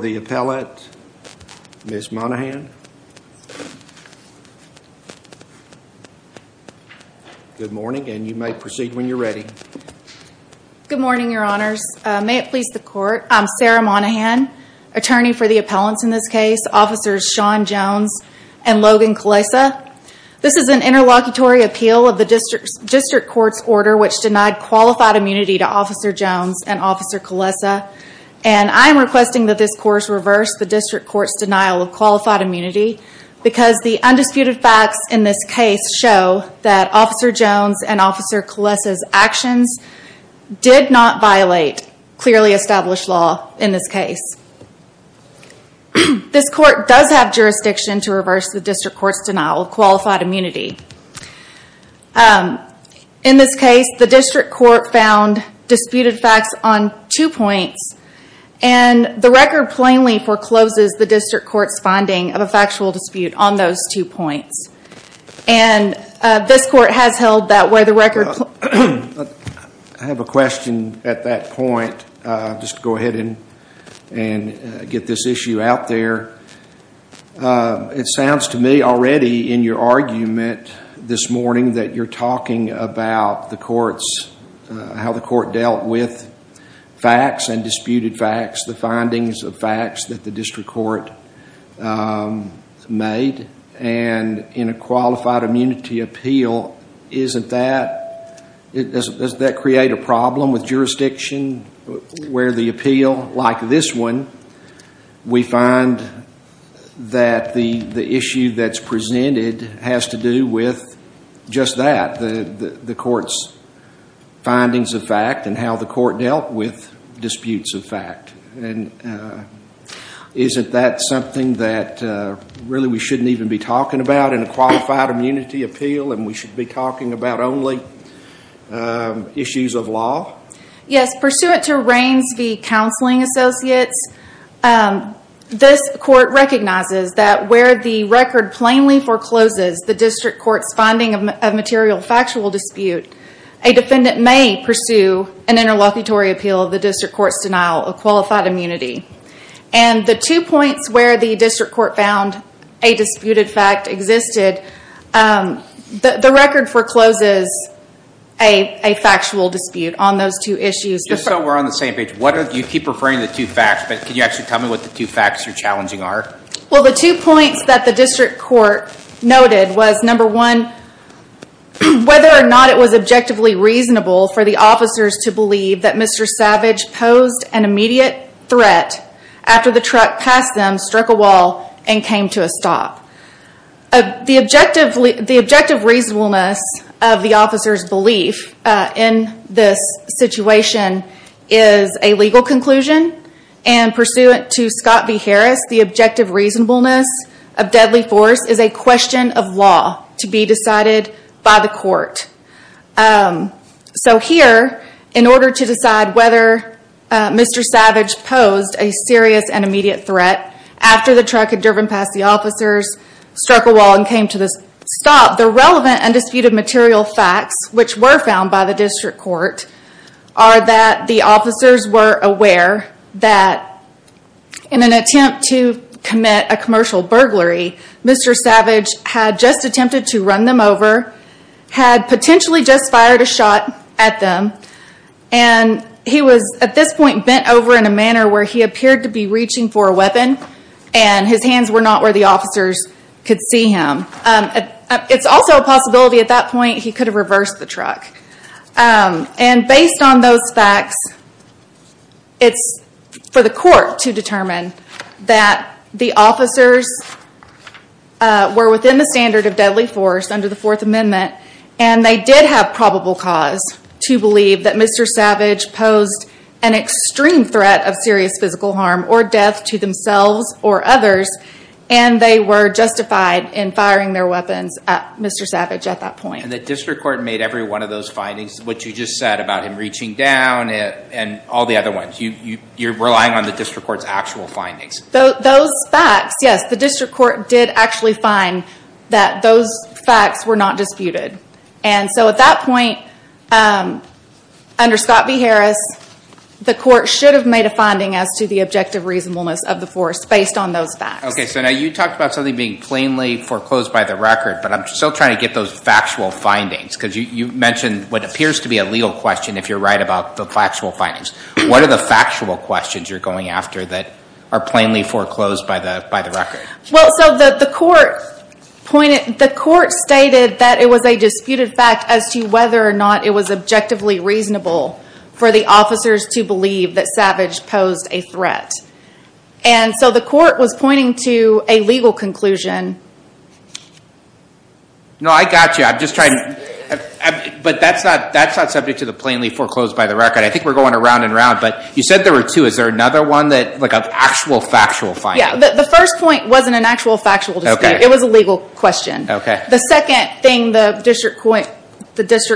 the appellate, Ms. Monahan. Good morning, and you may proceed when you're ready. Good morning, your honors. May it please the court, I'm Sarah Monahan, attorney for the appellants in this case, Officers Sean Jones and Logan Kulesa. This is an interlocutory appeal of the district court's order which denied qualified immunity to Officer Jones and Officer Kulesa, and I'm requesting that this course reverse the district court's denial of qualified immunity because the undisputed facts in this case show that Officer Jones and Officer Kulesa's actions did not violate clearly established law in this case. This court does have jurisdiction to reverse the district court's denial of qualified immunity. In this case, the district court found disputed facts on two points, and the record plainly forecloses the district court's finding of a factual dispute on those two points, and this court has held that way. I have a question at that point. Just go ahead and get this issue out there. It sounds to me already in your argument this morning that you're talking about the courts, how the court dealt with facts and disputed facts, the findings of facts that the district court made, and in a qualified immunity appeal, doesn't that create a problem with jurisdiction where the appeal, like this one, we find that the issue that's presented has to do with just that, the court's findings of fact and how the court dealt with disputes of fact, and isn't that something that really we shouldn't even be talking about in a qualified immunity appeal, and we should be talking about only issues of law? Yes. Pursuant to Raines v. Counseling Associates, this court recognizes that where the record plainly forecloses the district court's finding of a material factual dispute, a defendant may pursue an interlocutory appeal of the district court's denial of qualified immunity. The two points where the district court found a disputed fact existed, the record forecloses a factual dispute on those two issues. Just so we're on the same page, you keep referring to the two facts, but can you actually tell me what the two facts you're challenging are? Well, the two points that the district court noted was, number one, whether or not it was objectively reasonable for the officers to believe that Mr. Savage posed an immediate threat after the truck passed them, struck a wall, and came to a stop. The objective reasonableness of the officer's belief in this situation is a legal conclusion, and pursuant to Scott v. Harris, the objective reasonableness of deadly force is a question of law to be decided by the court. Here, in order to decide whether Mr. Savage posed a serious and immediate threat after the truck had driven past the officers, struck a wall, and came to a stop, the relevant and disputed material facts, which were found by the district court, are that the officers were aware that in an attempt to commit a commercial burglary, Mr. Savage had just attempted to run them over, had potentially just fired a shot at them, and he was at this point bent over in a manner where he appeared to be reaching for a weapon, and his hands were not where the officers could see him. It's also a possibility at that point he could have reversed the truck. And based on those facts, it's for the court to determine that the officers were within the standard of deadly force under the Fourth Amendment, and they did have probable cause to believe that Mr. Savage posed an extreme threat of serious physical harm or death to themselves or others, and they were justified in firing their weapons at Mr. Savage at that point. And the district court made every one of those findings, what you just said about him reaching down and all the other ones. You're relying on the district court's actual findings. Those facts, yes, the district court did actually find that those facts were not disputed. And so at that point, under Scott B. Harris, the court should have made a finding as to the objective reasonableness of the force based on those facts. Okay, so now you talked about something being plainly foreclosed by the record, but I'm still trying to get those factual findings, because you mentioned what appears to be a legal question if you're right about the factual findings. What are the factual questions you're going after that are plainly foreclosed by the record? Well, so the court stated that it was a disputed fact as to whether or not it was objectively reasonable for the officers to believe that Savage posed a threat. And so the court was pointing to a legal conclusion. No, I got you. I'm just trying, but that's not subject to the plainly foreclosed by the record. I think we're going around and around, but you said there were two. Is there another one that, like an actual factual finding? Yeah, the first point wasn't an actual factual dispute. It was a legal question. The second thing the district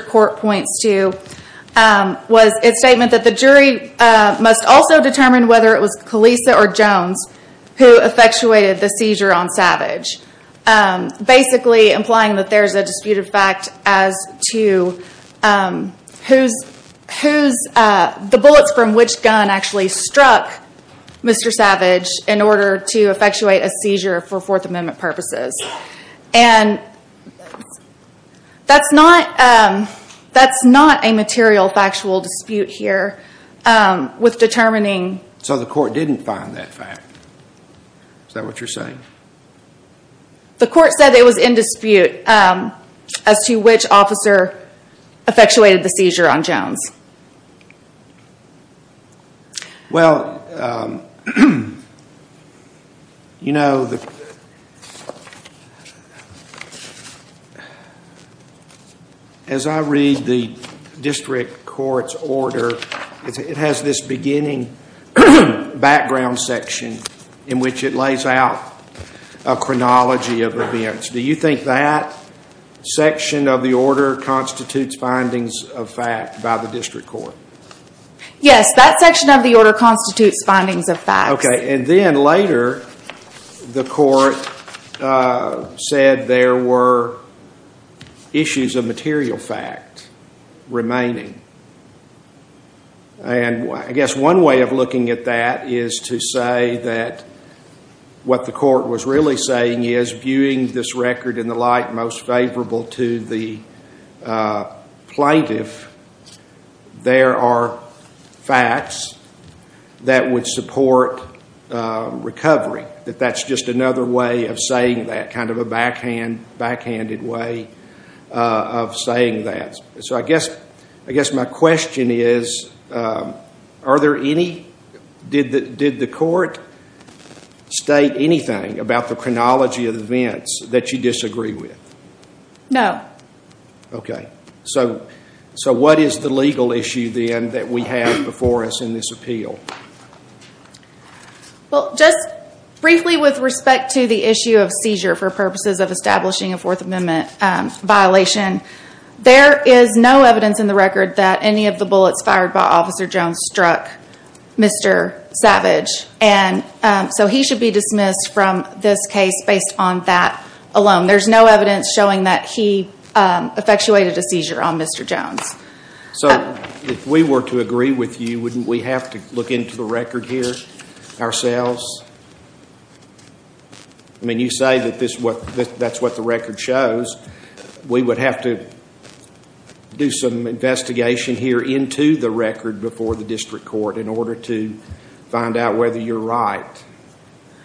court points to was its statement that the jury must also determine whether it was Kelisa or Jones who effectuated the seizure on Savage. Basically implying that there's a disputed fact as to who's, the bullets from which gun actually struck Mr. Savage in order to effectuate a seizure for Fourth Amendment purposes. And that's not a material factual dispute here with determining... So the court didn't find that fact? Is that what you're saying? The court said it was in dispute as to which officer effectuated the seizure on Jones. Well, you know, as I read the district court's order, it has this beginning background section in which it lays out a chronology of events. Do you think that section of the order constitutes findings of fact by the district court? Yes, that section of the order constitutes findings of fact. Okay, and then later the court said there were issues of material fact remaining. And I guess one way of looking at that is to say that what the court was really saying is viewing this record in the light most favorable to the plaintiff, there are facts that would support recovery. That that's just another way of saying that, kind of a backhanded way of saying that. So I guess my question is, did the court state anything about the chronology of events that you disagree with? No. Okay. So what is the legal issue then that we have before us in this appeal? Well, just briefly with respect to the issue of seizure for purposes of establishing a Fourth Amendment violation, there is no evidence in the record that any of the bullets fired by Officer Jones struck Mr. Savage. And so he should be dismissed from this case based on that alone. There's no evidence showing that he effectuated a seizure on Mr. Jones. So if we were to agree with you, wouldn't we have to look into the record here ourselves? I mean, you say that that's what the record shows. We would have to do some investigation here into the record before the district court in order to find out whether you're right.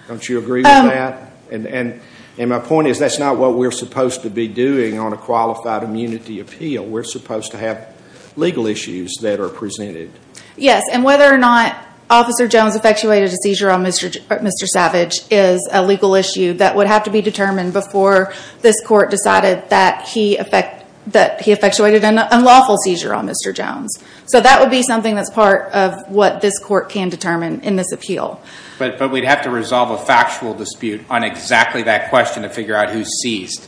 Don't you agree with that? And my point is that's not what we're supposed to be doing on a qualified immunity appeal. We're supposed to have legal issues that are presented. Yes. And whether or not Officer Jones effectuated a seizure on Mr. Savage is a legal issue that would have to be determined before this court decided that he effectuated an unlawful seizure on Mr. Jones. So that would be something that's part of what this court can determine in this appeal. But we'd have to resolve a factual dispute on exactly that question to figure out who seized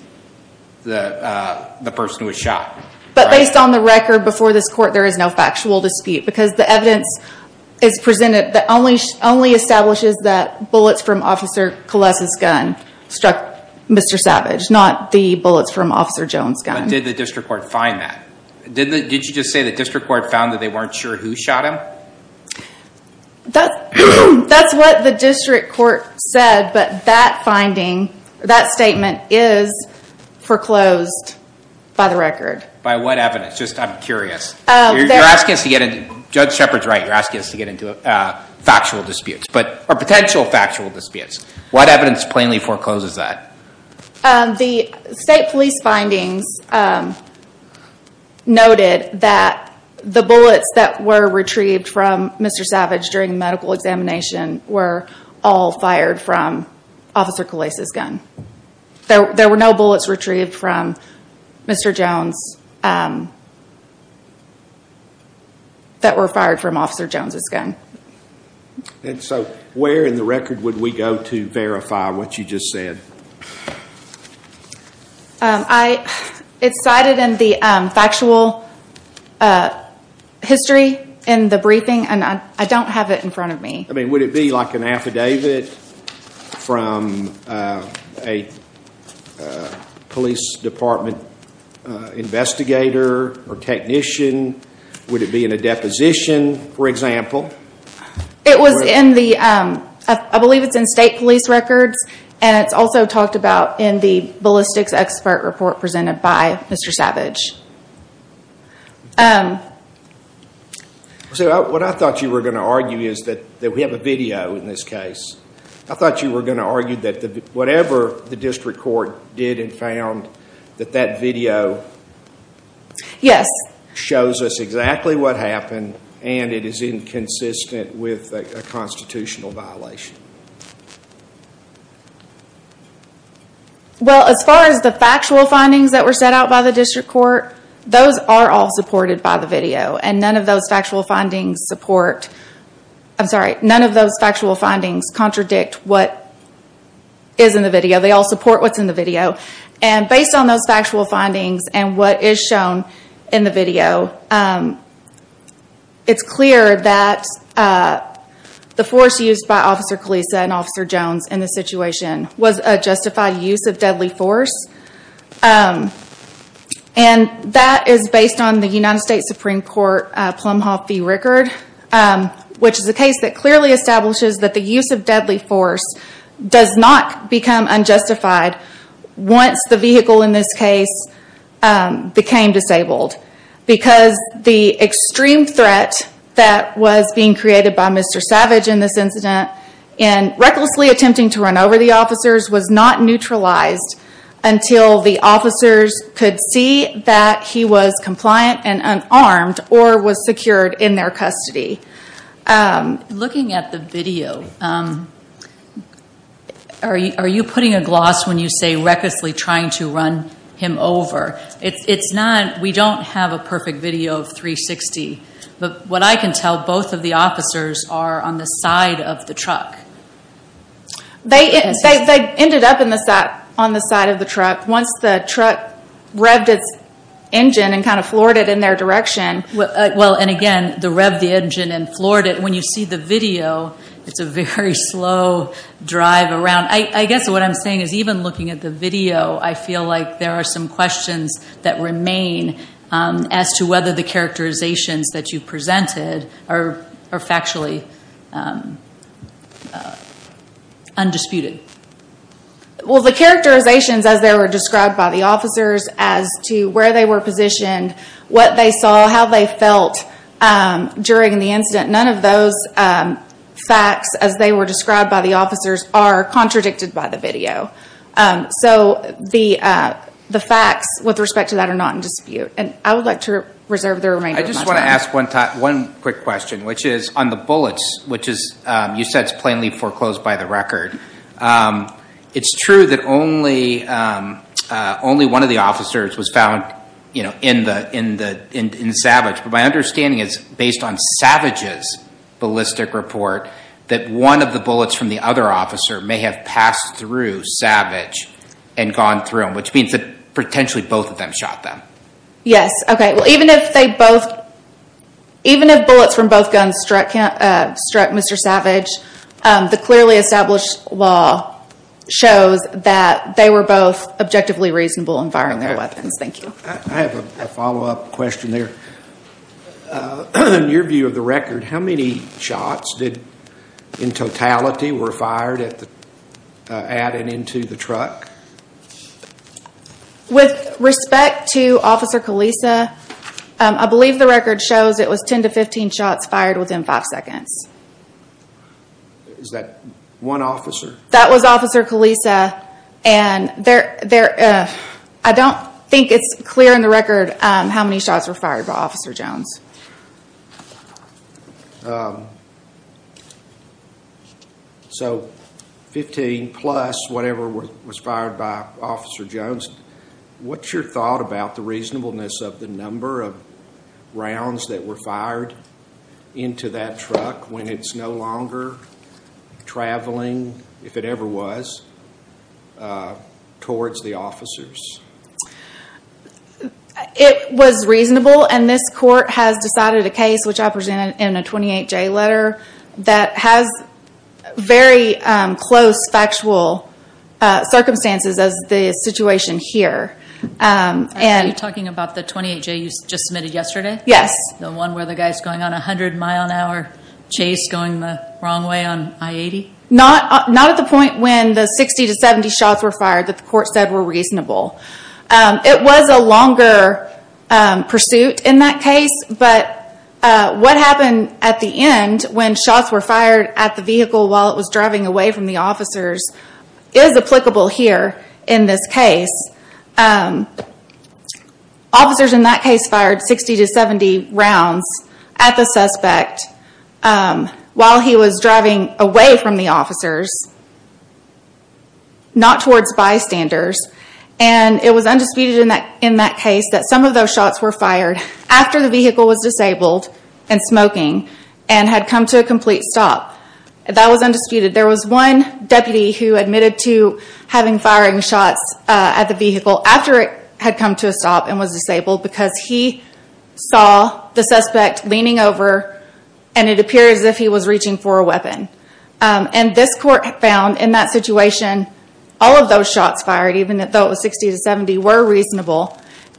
the person who was shot. But based on the record before this court, there is no factual dispute because the evidence is presented that only establishes that bullets from Officer Kalesa's gun struck Mr. Savage, not the bullets from Officer Jones' gun. But did the district court find that? Did you just say the district court found that they weren't sure who shot him? That's what the district court said, but that finding, that statement is foreclosed by the record. By what evidence? Just, I'm curious. You're asking us to get into, Judge Shepard's right, you're asking us to get into factual disputes, or potential factual disputes. What evidence plainly forecloses that? The state police findings noted that the bullets that were retrieved from Mr. Savage during the medical examination were all fired from Officer Kalesa's gun. There were no bullets retrieved from Mr. Jones that were fired from Officer Jones' gun. And so, where in the record would we go to verify what you just said? I, it's cited in the factual history in the briefing, and I don't have it in front of me. I mean, would it be like an affidavit from a police department investigator or technician? Would it be in a deposition, for example? It was in the, I believe it's in state police records, and it's also talked about in the ballistics expert report presented by Mr. Savage. What I thought you were going to argue is that we have a video in this case. I thought you were going to argue that whatever the district court did and found, that that video Yes. Shows us exactly what happened, and it is inconsistent with a constitutional violation. Well as far as the factual findings that were set out by the district court, those are all supported by the video, and none of those factual findings support, I'm sorry, none of those factual findings contradict what is in the video. They all support what's in the video, and based on those factual findings and what is shown in the video, it's clear that the force used by Officer Kalisa and Officer Jones in this situation was a justified use of deadly force, and that is based on the United States Supreme Court Plum Hall fee record, which is a case that clearly establishes that the use of deadly force does not become unjustified once the vehicle in this case became disabled, because the extreme threat that was being created by Mr. Savage in this incident, in recklessly attempting to run over the officers, was not neutralized until the officers could see that he was compliant and unarmed, or was secured in their custody. Looking at the video, are you putting a gloss when you say recklessly trying to run him over? It's not, we don't have a perfect video of 360, but what I can tell, both of the officers are on the side of the truck. They ended up on the side of the truck once the truck revved its engine and kind of floored it in their direction. And again, the rev of the engine and floored it, when you see the video, it's a very slow drive around. I guess what I'm saying is even looking at the video, I feel like there are some questions that remain as to whether the characterizations that you presented are factually undisputed. The characterizations as they were described by the officers as to where they were positioned, what they saw, how they felt during the incident, none of those facts as they were described by the officers are contradicted by the video. So the facts with respect to that are not in dispute. I would like to reserve the remainder of my time. I just want to ask one quick question, which is on the bullets, which you said is plainly foreclosed by the record. It's true that only one of the officers was found in the Savage. But my understanding is, based on Savage's ballistic report, that one of the bullets from the other officer may have passed through Savage and gone through him, which means that potentially both of them shot them. Yes. Okay. Well, even if bullets from both guns struck Mr. Savage, the clearly established law shows that they were both objectively reasonable in firing their weapons. Thank you. I have a follow-up question there. In your view of the record, how many shots in totality were fired at and into the truck? With respect to Officer Kalisa, I believe the record shows it was 10 to 15 shots fired within five seconds. Is that one officer? That was Officer Kalisa. I don't think it's clear in the record how many shots were fired by Officer Jones. So 15 plus whatever was fired by Officer Jones. What's your thought about the reasonableness of the number of rounds that were fired into that truck when it's no longer traveling, if it ever was, towards the officers? It was reasonable, and this court has decided a case, which I presented in a 28-J letter, that has very close factual circumstances as the situation here. Are you talking about the 28-J you just submitted yesterday? The one where the guy's going on a 100-mile-an-hour chase going the wrong way on I-80? Not at the point when the 60 to 70 shots were fired that the court said were reasonable. It was a longer pursuit in that case, but what happened at the end when shots were fired at the vehicle while it was driving away from the officers is applicable here in this case. Officers in that case fired 60 to 70 rounds at the suspect while he was driving away from the officers, not towards bystanders. It was undisputed in that case that some of those shots were fired after the vehicle was disabled and smoking and had come to a complete stop. That was undisputed. There was one deputy who admitted to having firing shots at the vehicle after it had come to a stop and was disabled because he saw the suspect leaning over and it appeared as if he was reaching for a weapon. This court found in that situation all of those shots fired, even though it was 60 to 70, were reasonable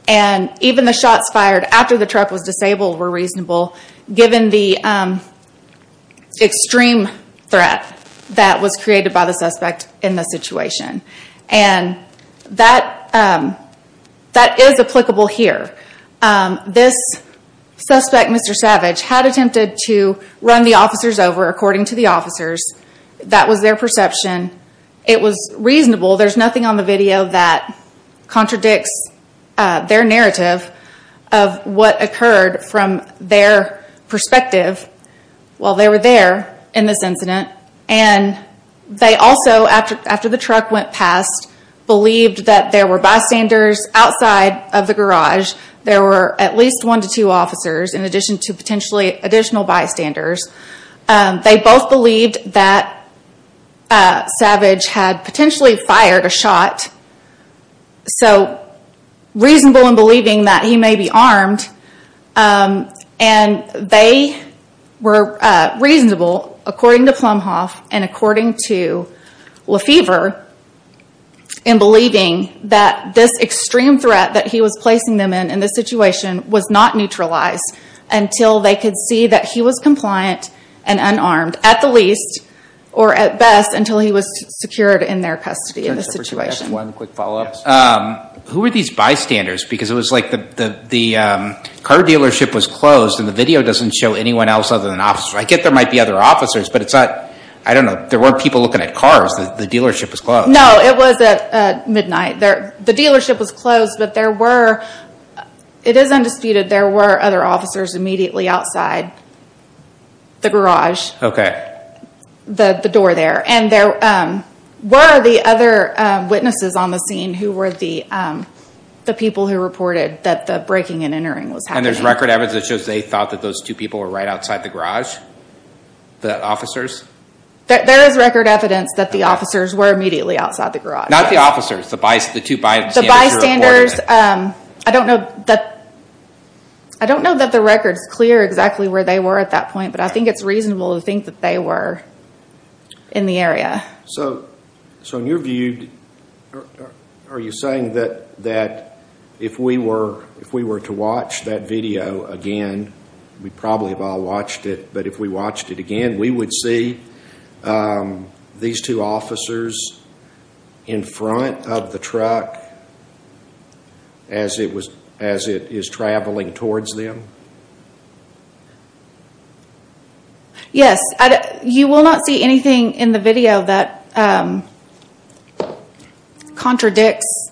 and even the shots fired after the truck was disabled were reasonable given the extreme threat that was created by the suspect in the situation. That is applicable here. This suspect, Mr. Savage, had attempted to run the officers over according to the officers. That was their perception. It was reasonable. There's nothing on the video that contradicts their narrative of what occurred from their perspective, while they were there in this incident. They also, after the truck went past, believed that there were bystanders outside of the There were at least one to two officers in addition to potentially additional bystanders. They both believed that Savage had potentially fired a shot, so reasonable in believing that he may be armed. They were reasonable, according to Plumhoff and according to Lefevre, in believing that this extreme threat that he was placing them in, in this situation, was not neutralized until they could see that he was compliant and unarmed, at the least, or at best, until he was secured in their custody in this situation. Who were these bystanders? Because it was like the car dealership was closed and the video doesn't show anyone else other than officers. I get there might be other officers, but it's not, I don't know, there weren't people looking at cars. The dealership was closed. No, it was at midnight. The dealership was closed, but there were, it is undisputed, there were other officers immediately outside the garage, the door there. And there were the other witnesses on the scene who were the people who reported that the breaking and entering was happening. And there's record evidence that shows they thought that those two people were right outside the garage? The officers? There is record evidence that the officers were immediately outside the garage. Not the officers, the two bystanders who reported it? I don't know that the record is clear exactly where they were at that point, but I think it's reasonable to think that they were in the area. So in your view, are you saying that if we were to watch that video again, we probably have all watched it, but if we watched it again, we would see these two officers in front of the truck as it was, as it is traveling towards them? Yes. You will not see anything in the video that contradicts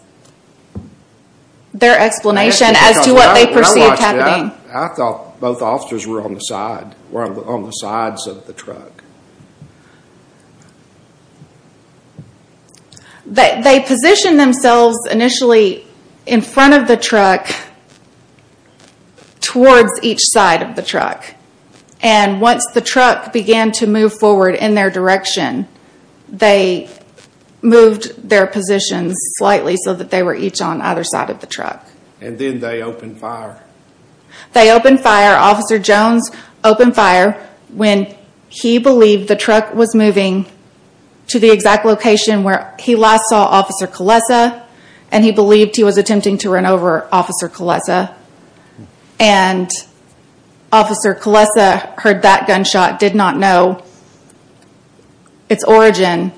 their explanation as to what they perceived happening. I thought both officers were on the side, were on the sides of the truck. They positioned themselves initially in front of the truck towards each side of the truck. And once the truck began to move forward in their direction, they moved their positions slightly so that they were each on either side of the truck. And then they opened fire? They opened fire. Officer Jones opened fire when he believed the truck was moving to the exact location where he last saw Officer Kalesa, and he believed he was attempting to run over Officer Kalesa. And Officer Kalesa heard that gunshot, did not know its origin,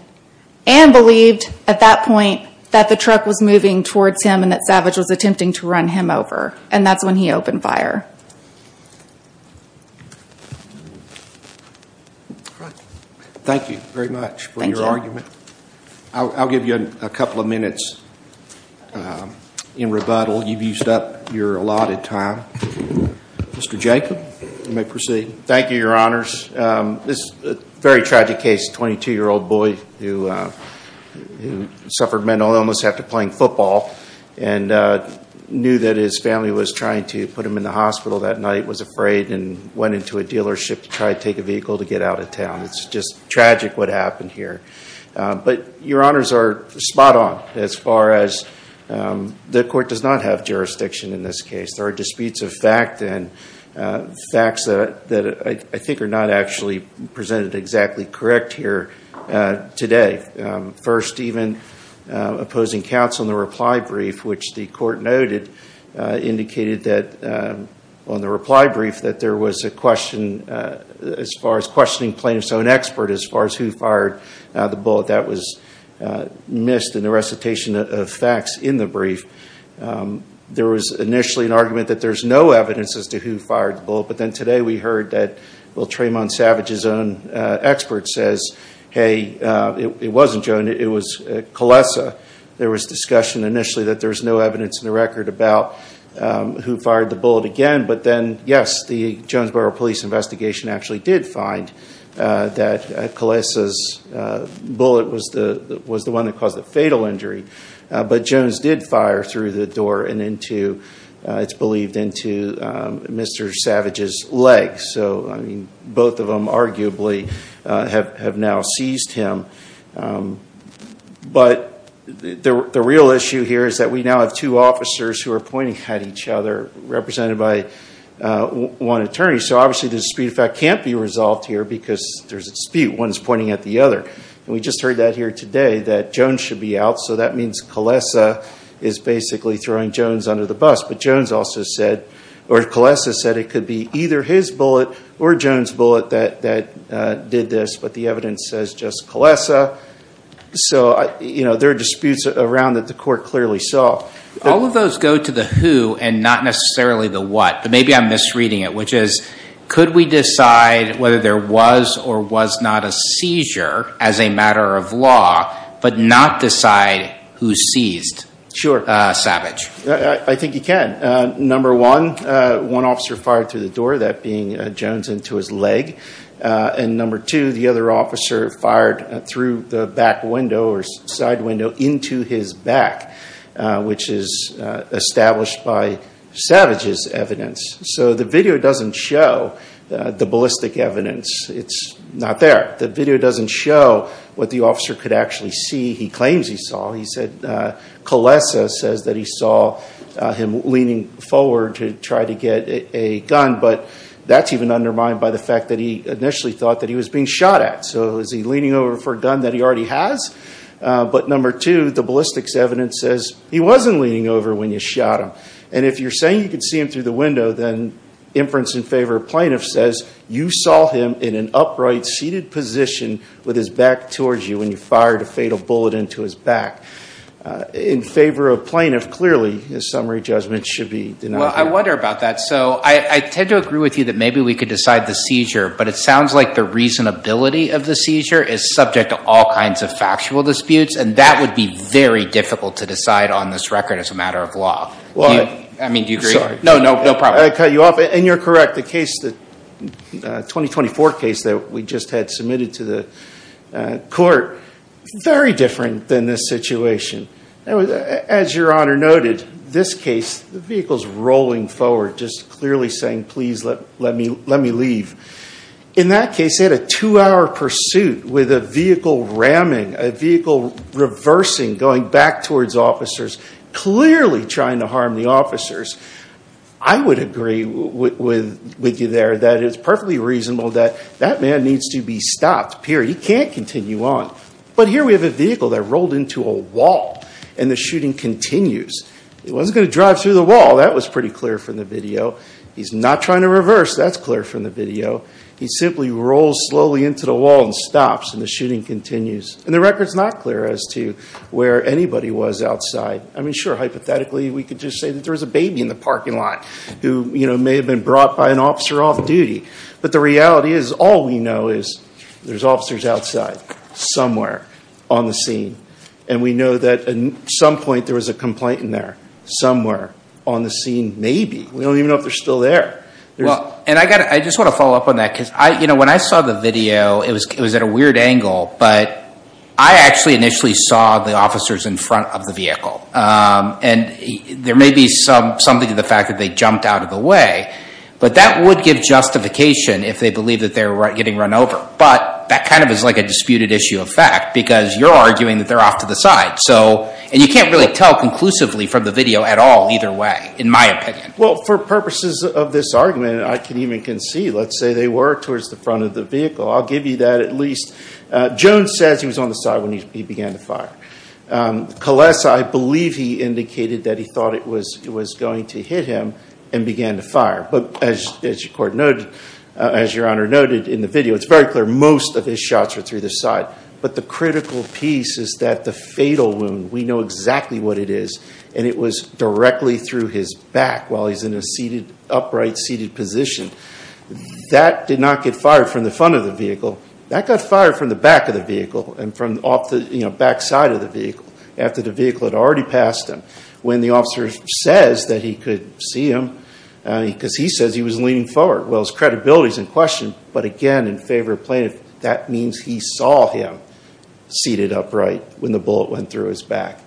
and believed at that point that the truck was moving towards him and that Savage was attempting to run him over. And that's when he opened fire. Thank you very much for your argument. I'll give you a couple of minutes in rebuttal. You've used up your allotted time. Mr. Jacob, you may proceed. Thank you, Your Honors. This is a very tragic case, a 22-year-old boy who suffered mental illness after playing football and knew that his family was trying to put him in the hospital that night, was afraid, and went into a dealership to try to take a vehicle to get out of town. It's just tragic what happened here. But Your Honors are spot on as far as the court does not have jurisdiction in this case. There are disputes of fact and facts that I think are not actually presented exactly correct here today. First, even opposing counsel in the reply brief, which the court noted indicated that on the reply brief that there was a question as far as questioning plaintiff's own expert as far as who fired the bullet that was missed in the recitation of facts in the brief. There was initially an argument that there's no evidence as to who fired the bullet, but then today we heard that Will Tremont Savage's own expert says, hey, it wasn't Joan, it was Kalesa. There was discussion initially that there's no evidence in the record about who fired the bullet again. But then, yes, the Jonesboro Police investigation actually did find that Kalesa's bullet was the one that caused the fatal injury. But Jones did fire through the door and into, it's believed, into Mr. Savage's leg. So both of them arguably have now seized him. But the real issue here is that we now have two officers who are pointing at each other represented by one attorney. So obviously the dispute of fact can't be resolved here because there's a dispute. One's pointing at the other. We just heard that here today, that Jones should be out. So that means Kalesa is basically throwing Jones under the bus. But Jones also said, or Kalesa said it could be either his bullet or Jones' bullet that did this. But the evidence says just Kalesa. So there are disputes around that the court clearly saw. All of those go to the who and not necessarily the what. Maybe I'm misreading it, which is, could we decide whether there was or was not a seizure as a matter of law, but not decide who seized Savage? I think you can. Number one, one officer fired through the door, that being Jones into his leg. And number two, the other officer fired through the back window or side window into his back, which is established by Savage's evidence. So the video doesn't show the ballistic evidence. It's not there. The video doesn't show what the officer could actually see, he claims he saw. He said Kalesa says that he saw him leaning forward to try to get a gun, but that's even undermined by the fact that he initially thought that he was being shot at. So is he leaning over for a gun that he already has? But number two, the ballistics evidence says he wasn't leaning over when you shot him. And if you're saying you could see him through the window, then inference in favor of plaintiff says you saw him in an upright seated position with his back towards you when you fired a fatal bullet into his back. In favor of plaintiff, clearly his summary judgment should be denied. Well, I wonder about that. So I tend to agree with you that maybe we could decide the seizure, but it sounds like the reasonability of the seizure is subject to all kinds of factual disputes, and that would be very difficult to decide on this record as a matter of law. I mean, do you agree? No, no problem. I cut you off. And you're correct. The case, the 2024 case that we just had submitted to the court, very different than this situation. As your honor noted, this case, the vehicle's rolling forward, just clearly saying, please let me leave. In that case, they had a two-hour pursuit with a vehicle ramming, a vehicle reversing, going back towards officers, clearly trying to harm the officers. I would agree with you there that it's perfectly reasonable that that man needs to be stopped, period. He can't continue on. But here we have a vehicle that rolled into a wall, and the shooting continues. It wasn't going to drive through the wall. That was pretty clear from the video. He's not trying to reverse. That's clear from the video. He simply rolls slowly into the wall and stops, and the shooting continues. And the record's not clear as to where anybody was outside. I mean, sure, hypothetically, we could just say that there was a baby in the parking lot who may have been brought by an officer off-duty. But the reality is, all we know is there's officers outside, somewhere on the scene. And we know that at some point there was a complaint in there, somewhere on the scene, maybe. We don't even know if they're still there. Well, and I just want to follow up on that, because when I saw the video, it was at a And there may be something to the fact that they jumped out of the way. But that would give justification if they believe that they're getting run over. But that kind of is like a disputed issue of fact, because you're arguing that they're off to the side. So, and you can't really tell conclusively from the video at all, either way, in my opinion. Well, for purposes of this argument, I can even concede, let's say they were towards the front of the vehicle. I'll give you that at least. Jones says he was on the side when he began the fire. Calesa, I believe he indicated that he thought it was going to hit him and began the fire. But as your Honor noted in the video, it's very clear most of his shots were through the side. But the critical piece is that the fatal wound, we know exactly what it is, and it was directly through his back while he's in an upright seated position. That did not get fired from the front of the vehicle. That got fired from the back of the vehicle and from off the back side of the vehicle after the vehicle had already passed him. When the officer says that he could see him, because he says he was leaning forward, well, his credibility is in question. But again, in favor of plaintiff, that means he saw him seated upright when the bullet went through his back.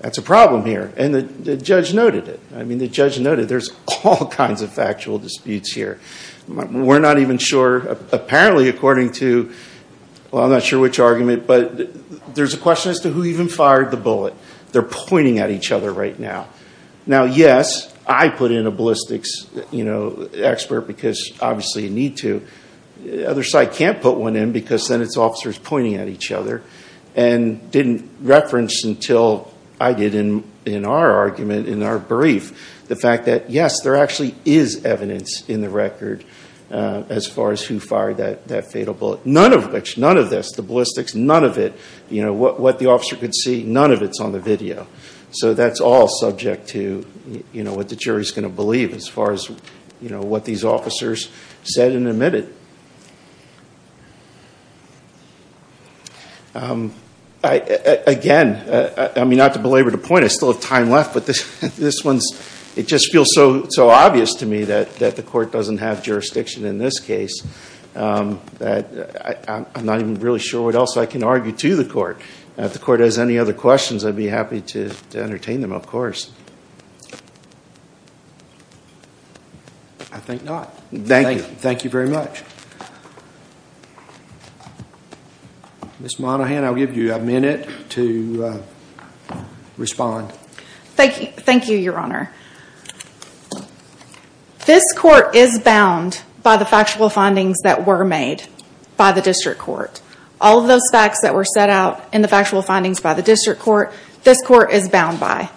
That's a problem here. And the judge noted it. I mean, the judge noted there's all kinds of factual disputes here. We're not even sure, apparently according to, well, I'm not sure which argument, but there's a question as to who even fired the bullet. They're pointing at each other right now. Now yes, I put in a ballistics expert because obviously you need to. Other side can't put one in because then it's officers pointing at each other and didn't reference until I did in our argument, in our brief, the fact that yes, there actually is evidence in the record as far as who fired that fatal bullet. None of which, none of this, the ballistics, none of it, what the officer could see, none of it's on the video. So that's all subject to what the jury's going to believe as far as what these officers said and admitted. Again, I mean, not to belabor the point, I still have time left, but this one, it just feels so obvious to me that the court doesn't have jurisdiction in this case that I'm not even really sure what else I can argue to the court. If the court has any other questions, I'd be happy to entertain them, of course. I think not. Thank you. Thank you very much. Ms. Monaghan, I'll give you a minute to respond. Thank you, Your Honor. This court is bound by the factual findings that were made by the district court. All of those facts that were set out in the factual findings by the district court, this court is bound by.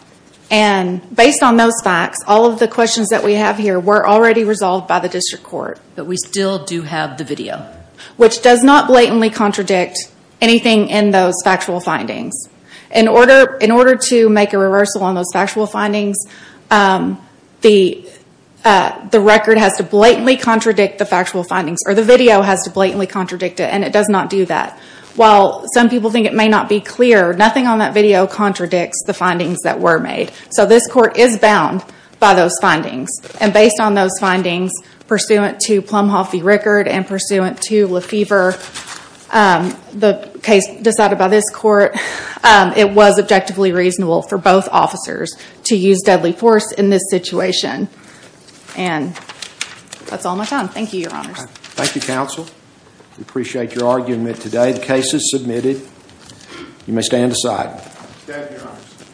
And based on those facts, all of the questions that we have here were already resolved by the district court. But we still do have the video. Which does not blatantly contradict anything in those factual findings. In order to make a reversal on those factual findings, the record has to blatantly contradict the factual findings, or the video has to blatantly contradict it, and it does not do that. While some people think it may not be clear, nothing on that video contradicts the findings that were made. So this court is bound by those findings. And based on those findings, pursuant to Plumhoff v. Rickard and pursuant to Lefevre, the case It was objectively reasonable for both officers to use deadly force in this situation. And that's all my time. Thank you, Your Honors. Thank you, counsel. We appreciate your argument today. The case is submitted. You may stand aside. Thank you, Your Honors.